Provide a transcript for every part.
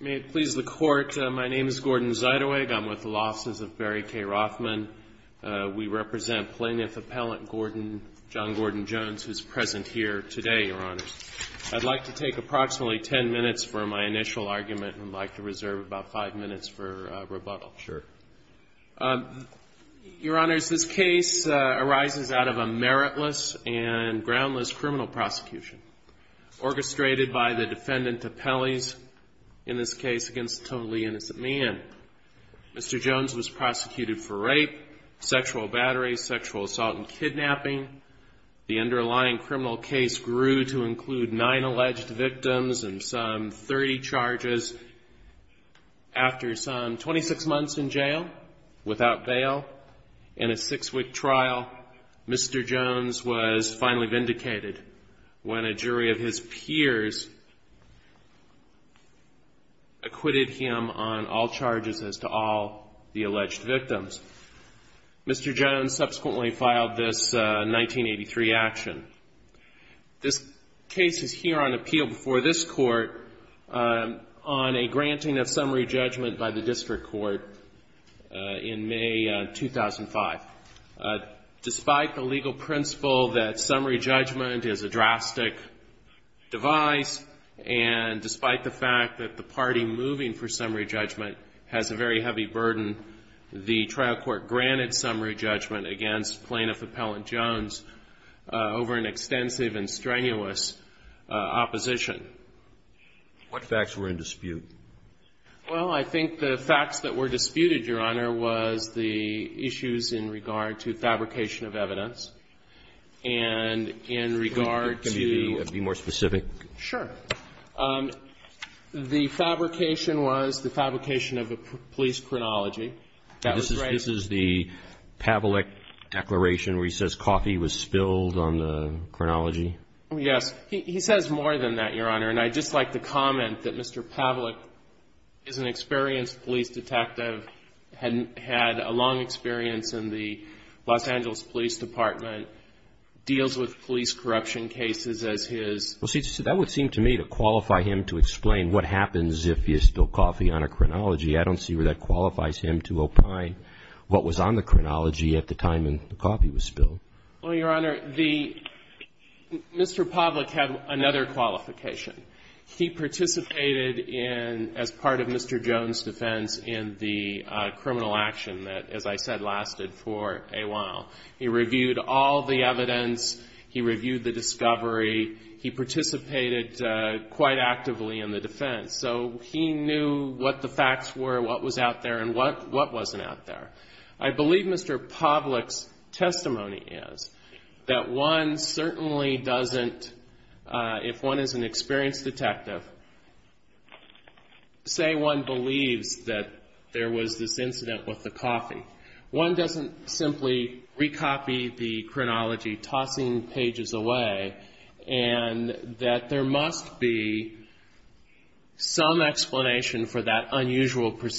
May it please the Court, my name is Gordon Zeidewig. I'm with the Law Offices of Barry Gordon, John Gordon Jones, who's present here today, Your Honors. I'd like to take approximately ten minutes for my initial argument, and I'd like to reserve about five minutes for rebuttal. Sure. Your Honors, this case arises out of a meritless and groundless criminal prosecution orchestrated by the defendant to penalties, in this case, against a totally innocent man. Mr. Jones was prosecuted for rape, sexual battery, sexual assault and kidnapping. The underlying criminal case grew to include nine alleged victims and some 30 charges. After some 26 months in jail, without bail, in a six-week trial, Mr. Jones was finally vindicated when a jury of his peers acquitted him on all charges as to all the alleged victims. Mr. Jones subsequently filed this 1983 action. This case is here on appeal before this Court on a granting of summary judgment by the District Court in May 2005. Despite the legal principle that summary judgment is a drastic device, and despite the fact that the party moving for summary judgment has a very heavy burden, the trial court granted summary judgment against Plaintiff Appellant Jones over an extensive and strenuous opposition. What facts were in dispute? Well, I think the facts that were disputed, Your Honor, was the issues in regard to fabrication of evidence, and in regard to the fabrication of the police chronology. This is the Pavlik declaration where he says coffee was spilled on the chronology? Yes. He says more than that, Your Honor, and I'd just like to comment that Mr. Pavlik is an experienced police detective, had a long experience in the Los Angeles Police Department, deals with police corruption cases as his... Well, see, that would seem to me to qualify him to explain what happens if you spill coffee on a chronology. I don't see where that qualifies him to opine what was on the chronology at the time the coffee was spilled. Well, Your Honor, Mr. Pavlik had another qualification. He participated as part of Mr. Jones' defense in the criminal action that, as I said, lasted for a while. He reviewed all the evidence, he reviewed the discovery, he participated quite actively in the defense, so he knew what the facts were, what was out there, and what wasn't out there. I believe Mr. Pavlik's argument is that one certainly doesn't, if one is an experienced detective, say one believes that there was this incident with the coffee. One doesn't simply recopy the chronology, tossing pages away, and that there must be some explanation for that unusual being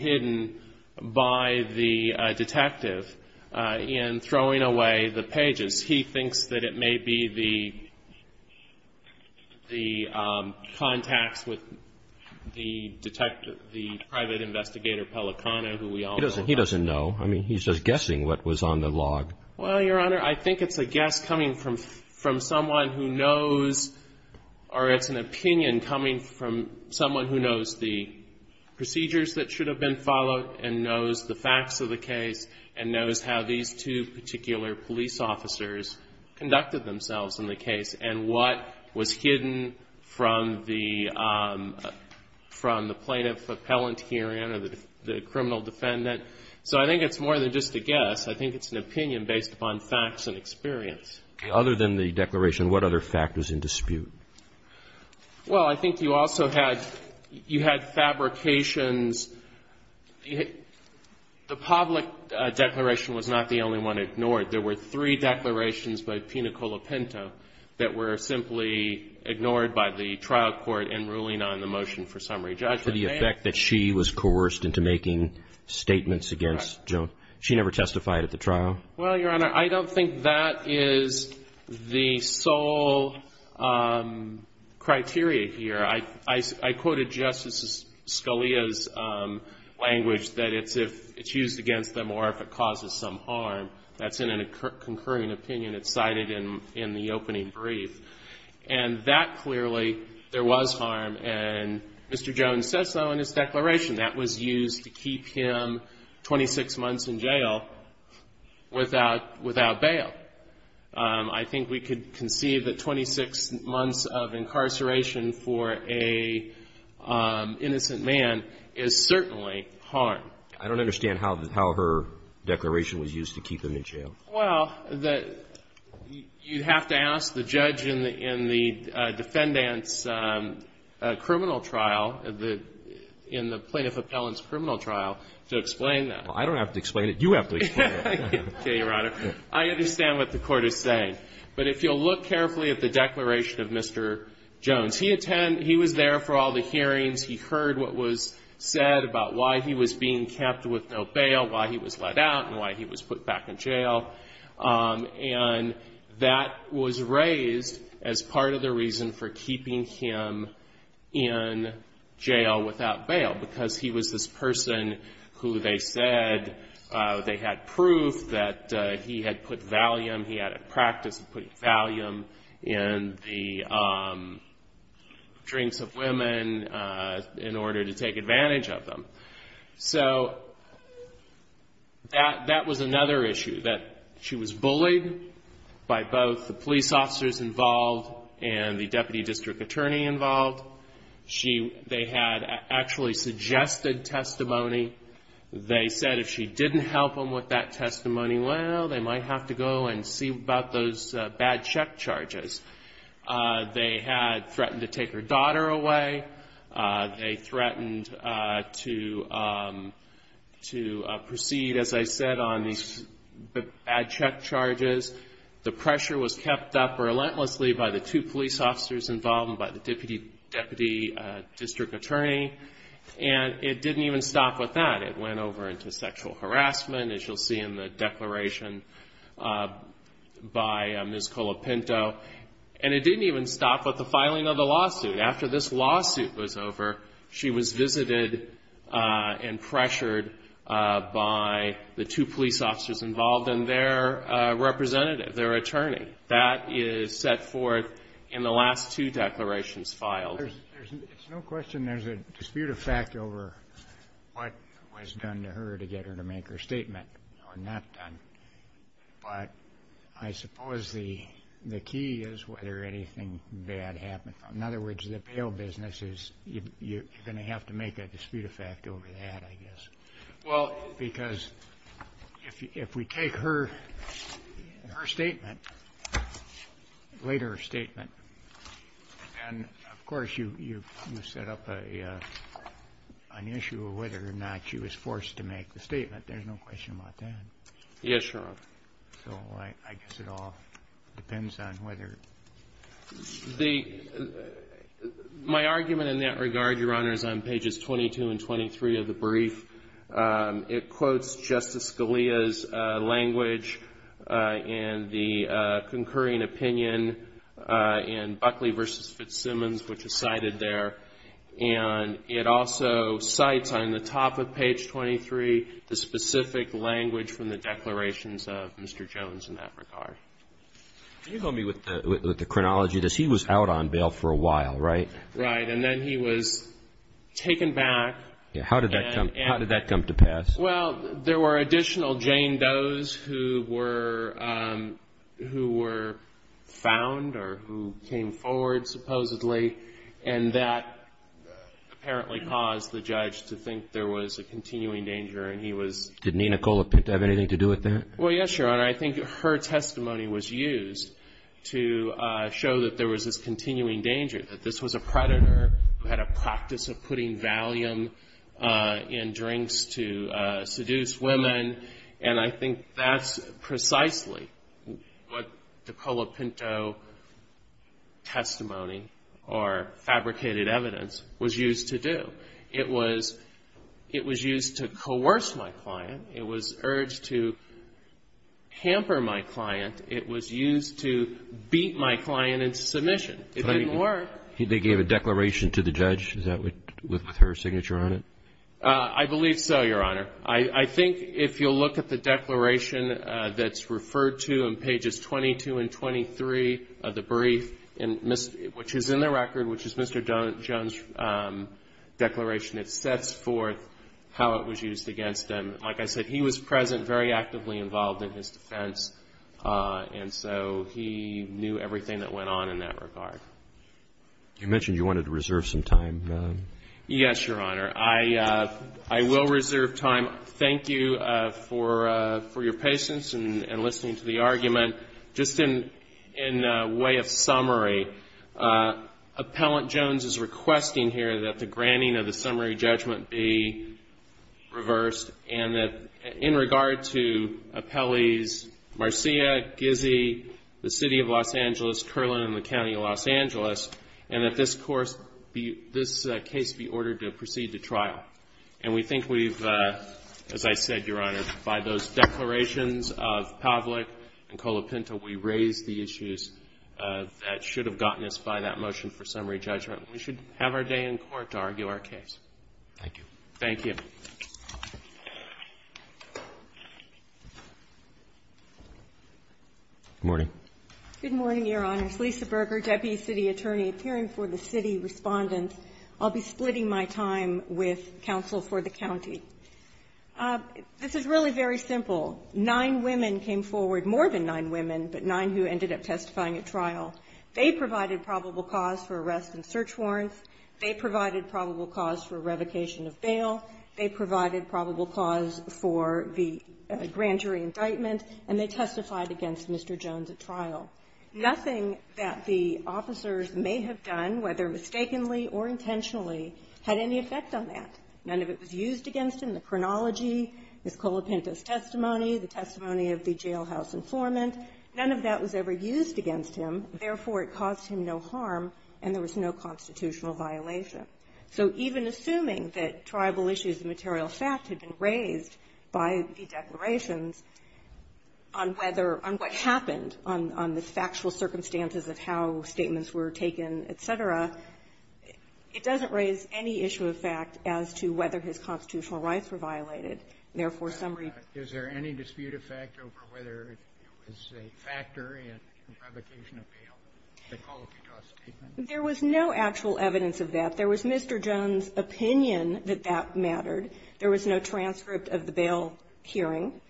hidden by the detective in throwing away the pages. He thinks that it may be the contacts with the private investigator, Pellicano, who we all know about. He doesn't know. I mean, he's just guessing what was on the log. Well, Your Honor, I think it's a guess coming from someone who knows, or it's an opinion coming from someone who knows the procedures that should have been followed and knows the facts of the case and knows how these two particular police officers conducted themselves in the case and what was hidden from the plaintiff appellant hearing or the criminal defendant. So I think it's more than just a guess. I think it's an opinion based upon facts and experience. Okay. Other than the declaration, what other fact was in dispute? Well, I think you also had fabrications. The public declaration was not the only one ignored. There were three declarations by Pinacola Pinto that were simply ignored by the trial court in ruling on the motion for summary judgment. To the effect that she was coerced into making statements against Joe. She never testified at the trial? Well, Your Honor, I don't think that is the sole criteria here. I quoted Justice Scalia's language that it's used against them or if it causes some harm. That's in a concurring opinion. It's cited in the opening brief. And that clearly, there was harm. And Mr. Jones says so in his declaration. That was used to keep him 26 months in jail. Without bail. I think we could conceive that 26 months of incarceration for an innocent man is certainly harm. I don't understand how her declaration was used to keep him in jail. Well, you have to ask the judge in the defendant's criminal trial, in the plaintiff appellant's criminal trial, to explain that. I don't have to explain it. You have to explain it. Okay, Your Honor. I understand what the court is saying. But if you'll look carefully at the declaration of Mr. Jones. He was there for all the hearings. He heard what was said about why he was being kept with no bail, why he was let out, and why he was put back in jail. And that was raised as part of the reason for keeping him in jail without bail. They said they had proof that he had put Valium, he had a practice of putting Valium in the drinks of women in order to take advantage of them. So that was another issue. That she was bullied by both the police officers involved and the deputy district attorney involved. They had actually suggested testimony. They said if she didn't help him with that testimony, well, they might have to go and see about those bad check charges. They had threatened to take her daughter away. They threatened to proceed, as I said, on these bad check charges. The pressure was kept up relentlessly by the two police officers involved and by the deputy district attorney. And it didn't even stop with that. It went over into sexual harassment, as you'll see in the declaration by Ms. Colopinto. And it didn't even stop with the filing of the lawsuit. After this lawsuit was over, she was visited and pressured by the two police officers involved and their representative, their attorney. That is set forth in the last two declarations filed. There's no question there's a dispute of fact over what was done to her to get her to make her statement or not done. But I suppose the key is whether anything bad happened. In other words, the bail business is going to have to make a dispute of fact. And of course, you set up an issue of whether or not she was forced to make the statement. There's no question about that. My argument in that regard, Your Honors, on pages 22 and 23 of the brief, it quotes Justice Scalia's language and the concurring opinion in Buckley v. Fitzsimmons, which is cited there. And it also cites on the top of page 23 the specific language from the declarations of Mr. Jones in that regard. Can you help me with the chronology of this? He was out on bail for a while, right? Right. And then he was taken back. How did that come to pass? Well, there were additional Jane Doe's who were found or who came forward supposedly. And that apparently caused the judge to think there was a continuing danger. And he was... Did Nicola Pinto have anything to do with that? Well, yes, Your Honor. I think her testimony was used to show that there was this continuing danger, that this was a predator who had a practice of putting Valium in drinks to seduce women. And I think that's precisely what the Nicola Pinto testimony or fabricated evidence was used to do. It was used to coerce my client. It was urged to hamper my client. It was used to beat my client into submission. It didn't work. They gave a declaration to the judge. Is that with her signature on it? I believe so, Your Honor. I think if you'll look at the declaration that's referred to in pages 22 and 23 of the brief, which is in the record, which is Mr. Jones' brief declaration, it sets forth how it was used against him. Like I said, he was present, very actively involved in his defense. And so he knew everything that went on in that regard. You mentioned you wanted to reserve some time. Yes, Your Honor. I will reserve time. Thank you for your patience and listening to the argument. Just in way of summary, Appellant Jones is requesting here that the granting of the summary judgment be reversed and that in regard to appellees Marcia, Gizzy, the City of Los Angeles, Curlin, and the County of Los Angeles, and that this case be ordered to proceed to trial. And we think we've, as I said, Your Honor, by those declarations of Pavlik and Colopinto, we raise the issues that should have gotten us by that motion for summary judgment. We should have our day in court to argue our case. Thank you. Good morning. Good morning, Your Honors. Lisa Berger, Deputy City Attorney appearing for the City Respondent. I'll be splitting my time with counsel for the county. This is really very simple. Nine women came forward, more than nine women, but nine who ended up testifying at trial. They provided probable cause for arrest and search warrants. They provided probable cause for revocation of bail. They provided probable cause for the grand jury indictment. And they testified against Mr. Jones at trial. Nothing that the officers may have done, whether mistakenly or intentionally, had any effect on that. None of it was used against him. The chronology, Ms. Colopinto's testimony, the testimony of the jailhouse informant, none of that was ever used against him. Therefore, it caused him no harm, and there was no constitutional violation. So even assuming that tribal issues of material fact had been raised by the declarations on whether or what happened on the factual circumstances of how statements were taken, et cetera, it doesn't raise any issue of fact as to whether his constitutional rights were violated. Therefore, summary ---- Is there any dispute of fact over whether it was a factor in revocation of bail, Ms. Colopinto's statement? There was no actual evidence of that. There was Mr. Jones' opinion that that mattered. There was no transcript of the bail hearing.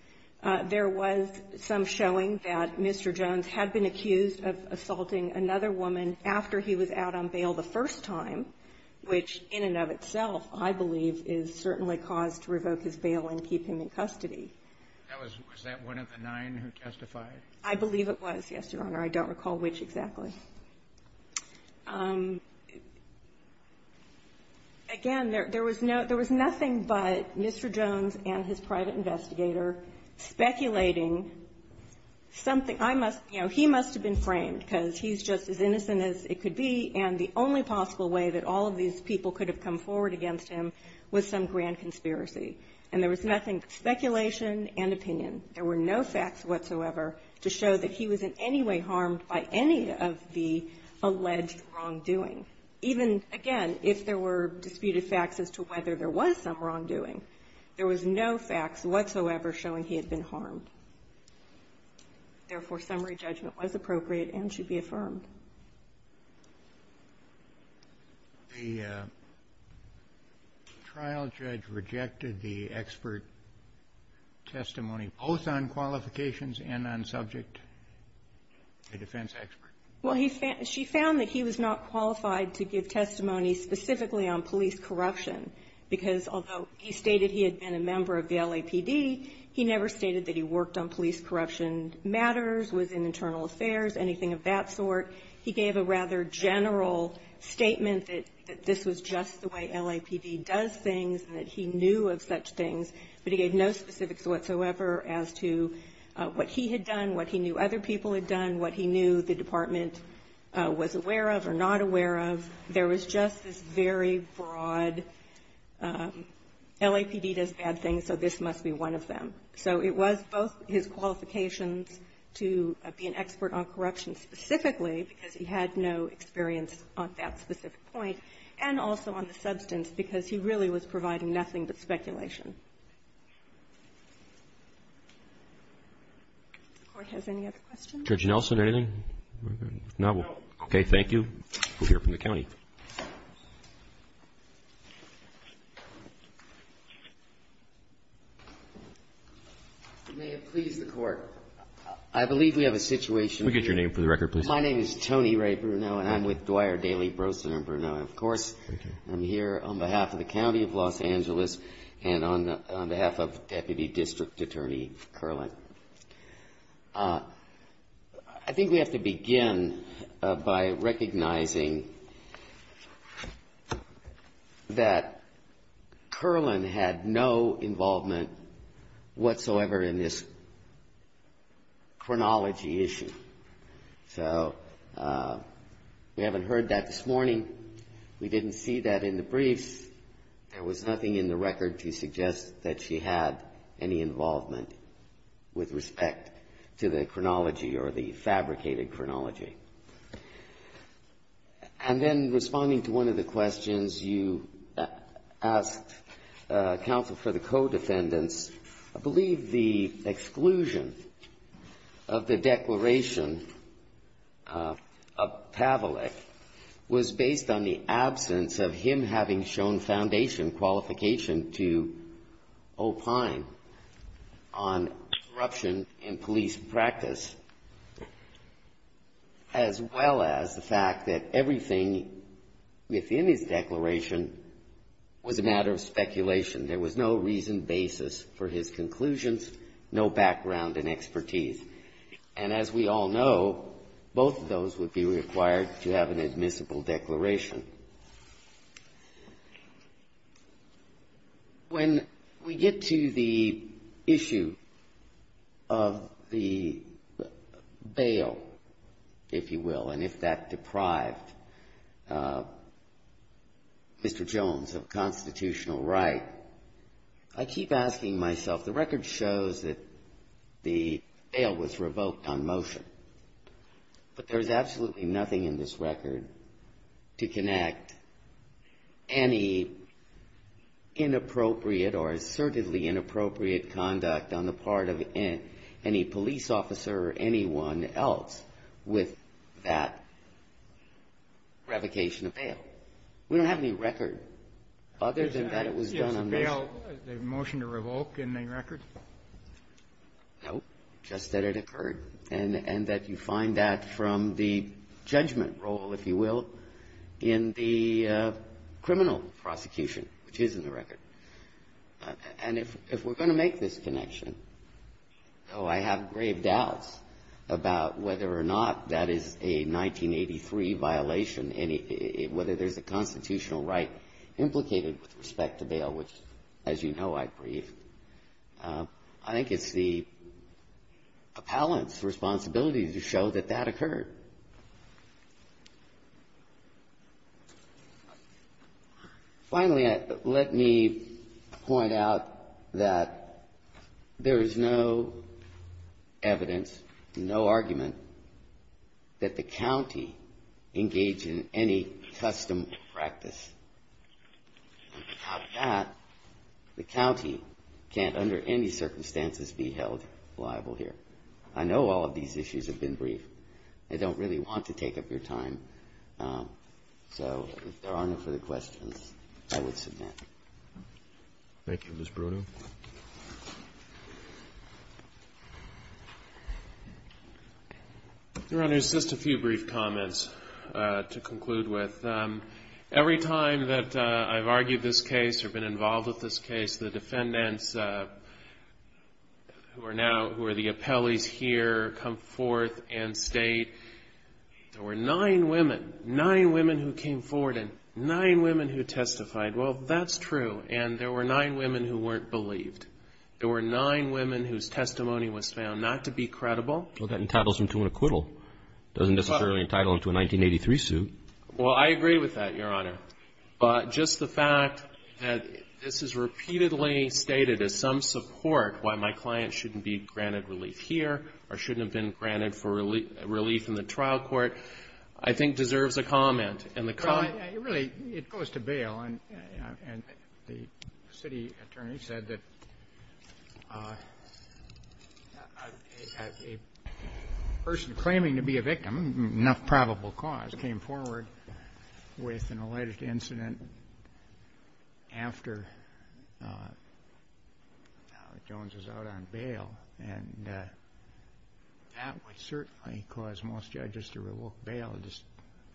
There was some showing that Mr. Jones had been accused of assaulting another woman after he was out on bail the first time, which in and of itself I believe is certainly cause to revoke his bail and keep him in custody. Was that one of the nine who testified? I believe it was, yes, Your Honor. I don't recall which exactly. Again, there was no ---- there was nothing but Mr. Jones and his private investigator speculating something. I must be ---- you know, he must have been framed because he's just as innocent as it could be, and the only possible way that all of these people could have come forward against him was some grand conspiracy. And there was nothing but speculation and opinion. There were no facts whatsoever to show that he was in any way harmed by any of the wrongdoing. There was no facts whatsoever showing he had been harmed. Therefore, summary judgment was appropriate and should be affirmed. The trial judge rejected the expert testimony, both on qualifications and on subject, the defense expert. Well, he found ---- she found that he was not qualified to give testimony specifically on police corruption, because although he stated he had been a member of the LAPD, he never stated that he worked on police corruption matters, was in internal affairs, anything of that sort. He gave a rather general statement that this was just the way LAPD does things and that he knew of such things, but he gave no specifics whatsoever as to what he had done, what he knew other people had done, what he knew the department was aware of or not aware of. There was just this very broad, LAPD does bad things, so this must be one of them. So it was both his qualifications to be an expert on corruption specifically, because he had no experience on that specific point, and also on the substance, because he really was providing nothing but speculation. If the Court has any other questions? Judge Nelson, anything? No. Okay. Thank you. We'll hear from the County. May it please the Court. I believe we have a situation here. Could you get your name for the record, please? My name is Tony Ray Bruneau, and I'm with Dwyer, Daly, Brosen and Bruneau. Of course, I'm here on behalf of the County of Los Angeles and on behalf of Deputy District Attorney Kerling. I think we have to begin by recognizing that Kerling had no involvement whatsoever in this chronology issue. So we haven't heard that this morning. We didn't see that in the briefs. There was nothing in the record to suggest that she had any involvement with respect to the chronology or the fabricated chronology. And then responding to one of the questions you asked counsel for the co-defendants, I believe the exclusion of the declaration of Pavlik was based on the absence of him having shown foundation, qualification to opine on corruption in police practice, as well as the fact that everything within his declaration was a matter of speculation. There was no reason basis for his conclusions, no background and expertise. And as we all know, both of those would be required to have an admissible declaration. When we get to the issue of the bail, if you will, and if that deprived Mr. Jones of constitutional right, I keep asking myself, the record shows that the bail was revoked on motion, but there's not any inappropriate or assertively inappropriate conduct on the part of any police officer or anyone else with that revocation of bail. We don't have any record other than that it was done on motion. The motion to revoke, any record? No, just that it occurred. And that you find that from the judgment role, if you will, in the criminal prosecution, which is in the record. And if we're going to make this connection, though I have grave doubts about whether or not that is a 1983 violation, whether there's a constitutional right implicated with respect to bail, which, as you know, I grieve, I think it's the appellant's responsibility to show that that occurred. Finally, let me point out that there is no evidence, no argument, that the county engaged in any custom practice. Without that, the county can't, under any circumstances, be held liable here. I know all of these issues have been brief. I don't really want to take up your time, so if there are no further questions. I would submit. Your Honor, just a few brief comments to conclude with. Every time that I've argued this case or been involved with this case, the defendants, who are now, who are the appellees here, come forth and state, there were nine women, nine women who came forward and nine women who testified. Well, that's true. And there were nine women who weren't believed. There were nine women whose testimony was found not to be credible. Well, that entitles them to an acquittal. It doesn't necessarily entitle them to a 1983 suit. Well, I agree with that, Your Honor. But just the fact that this is repeatedly stated as some support why my client shouldn't be granted relief here or shouldn't have been granted relief in the trial court, I think deserves a comment. Really, it goes to bail. And the city attorney said that a person claiming to be a victim, enough probable cause, came forward with an alleged incident after Jones was out on bail. And that would certainly cause most judges to revoke bail.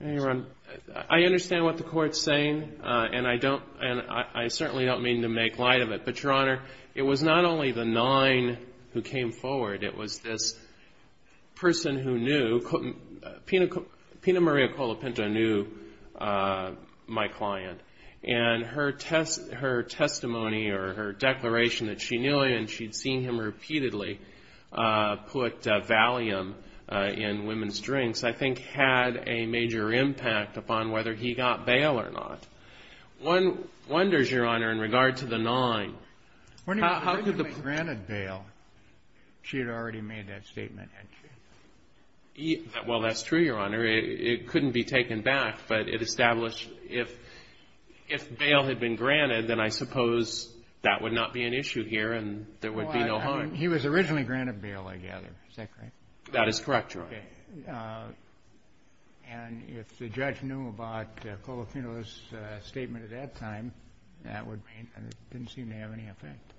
I understand what the Court's saying. And I don't, and I certainly don't mean to make light of it. But, Your Honor, it was not only the nine who came forward. It was this person who knew, Pina Maria Colopinto knew my client. And her testimony or her declaration that she knew him and she'd seen him repeatedly put Valium in women's drinks, I think had a major impact upon whether he got bail or not. One wonders, Your Honor, in regard to the nine. When he was originally granted bail, she had already made that statement, hadn't she? Well, that's true, Your Honor. It couldn't be taken back. But it established if bail had been granted, then I suppose that would not be an issue here and there would be no harm. He was originally granted bail, I gather. Is that correct? That is correct, Your Honor. And if the judge knew about Colopinto's statement at that time, that would mean, it didn't seem to have any effect.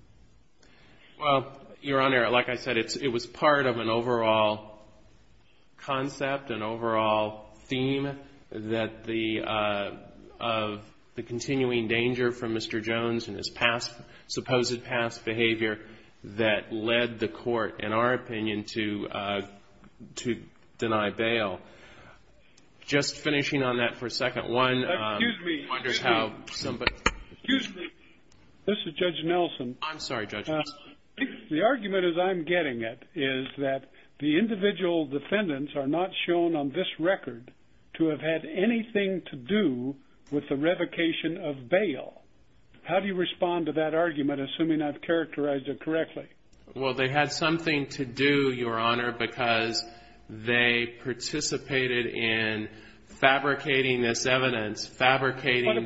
Well, Your Honor, like I said, it was part of an overall concept, an overall theme that the, of the continuing danger from Mr. Jones and his past, supposed past behavior that led the court, in our opinion, to deny bail. Just finishing on that for a second, one wonders how somebody... Excuse me. This is Judge Nelson. I'm sorry, Judge. The argument, as I'm getting it, is that the individual defendants are not shown on this record to have had anything to do with the revocation of bail. How do you respond to that argument, assuming I've characterized it correctly? Well, they had something to do, Your Honor, because they participated in fabricating this evidence, fabricating... What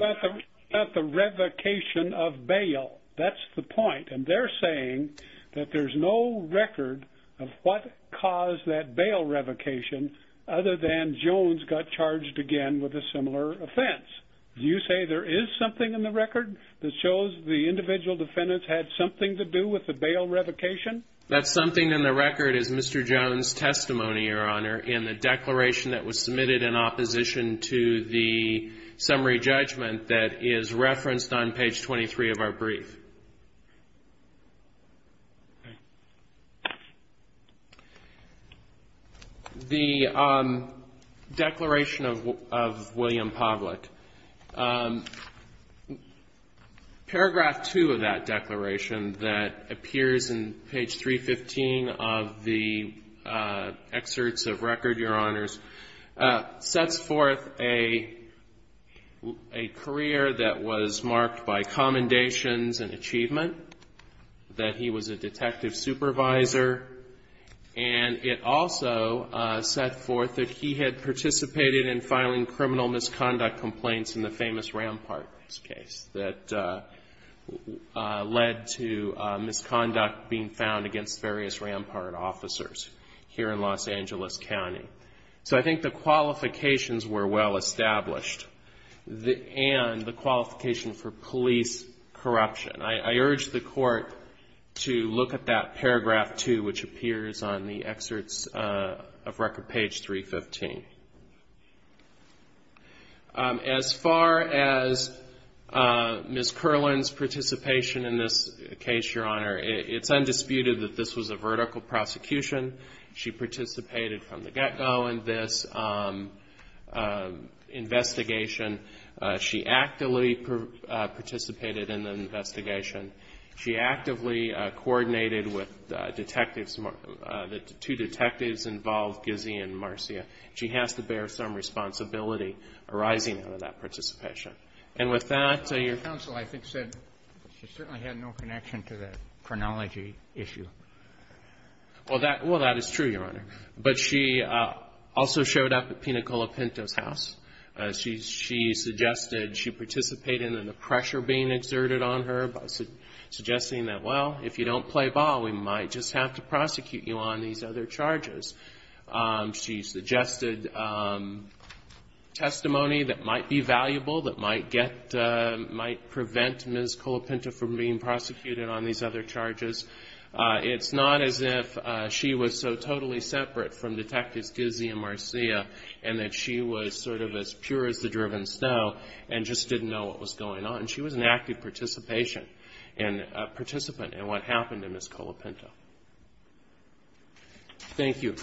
about the revocation of bail? That's the point. And they're saying that there's no record of what caused that bail revocation, other than Jones got charged again with a similar offense. Do you say there is something in the record that shows the individual defendants had something to do with the bail revocation? That something in the record is Mr. Jones' testimony, Your Honor, in the declaration that was submitted in opposition to the summary judgment. That is referenced on page 23 of our brief. The declaration of William Povlick, paragraph 2 of that declaration that appears in page 315 of the excerpts of record, Your Honor, sets forth a career that was marked by commendations and achievement, that he was a detective supervisor, and it also set forth that he had participated in filing criminal misconduct complaints in the famous Rampart case that led to misconduct being found against various Rampart officers here in Los Angeles County. So I think the qualifications were well established, and the qualification for police corruption. I urge the Court to look at that paragraph 2, which appears on the excerpts of record, page 315. As far as Ms. Kerlin's participation in this case, Your Honor, it's undisputed that this was a vertical prosecution. She participated from the get-go in this investigation. She actively participated in the investigation. She actively coordinated with detectives, the two detectives involved, Gizzi and Marcia. She has to bear some responsibility arising out of that participation. And with that, Your Honor. So I think she said she certainly had no connection to the chronology issue. Well, that is true, Your Honor. But she also showed up at Pina Colopinto's house. She suggested she participated in the pressure being exerted on her by suggesting that, well, if you don't play ball, we might just have to prosecute you on these other charges. She suggested testimony that might be valuable, that might prevent Ms. Colopinto from being prosecuted on these other charges. It's not as if she was so totally separate from Detectives Gizzi and Marcia, and that she was sort of as pure as the driven snow, and just didn't know what was going on. She was an active participant in what happened to Ms. Colopinto. Thank you.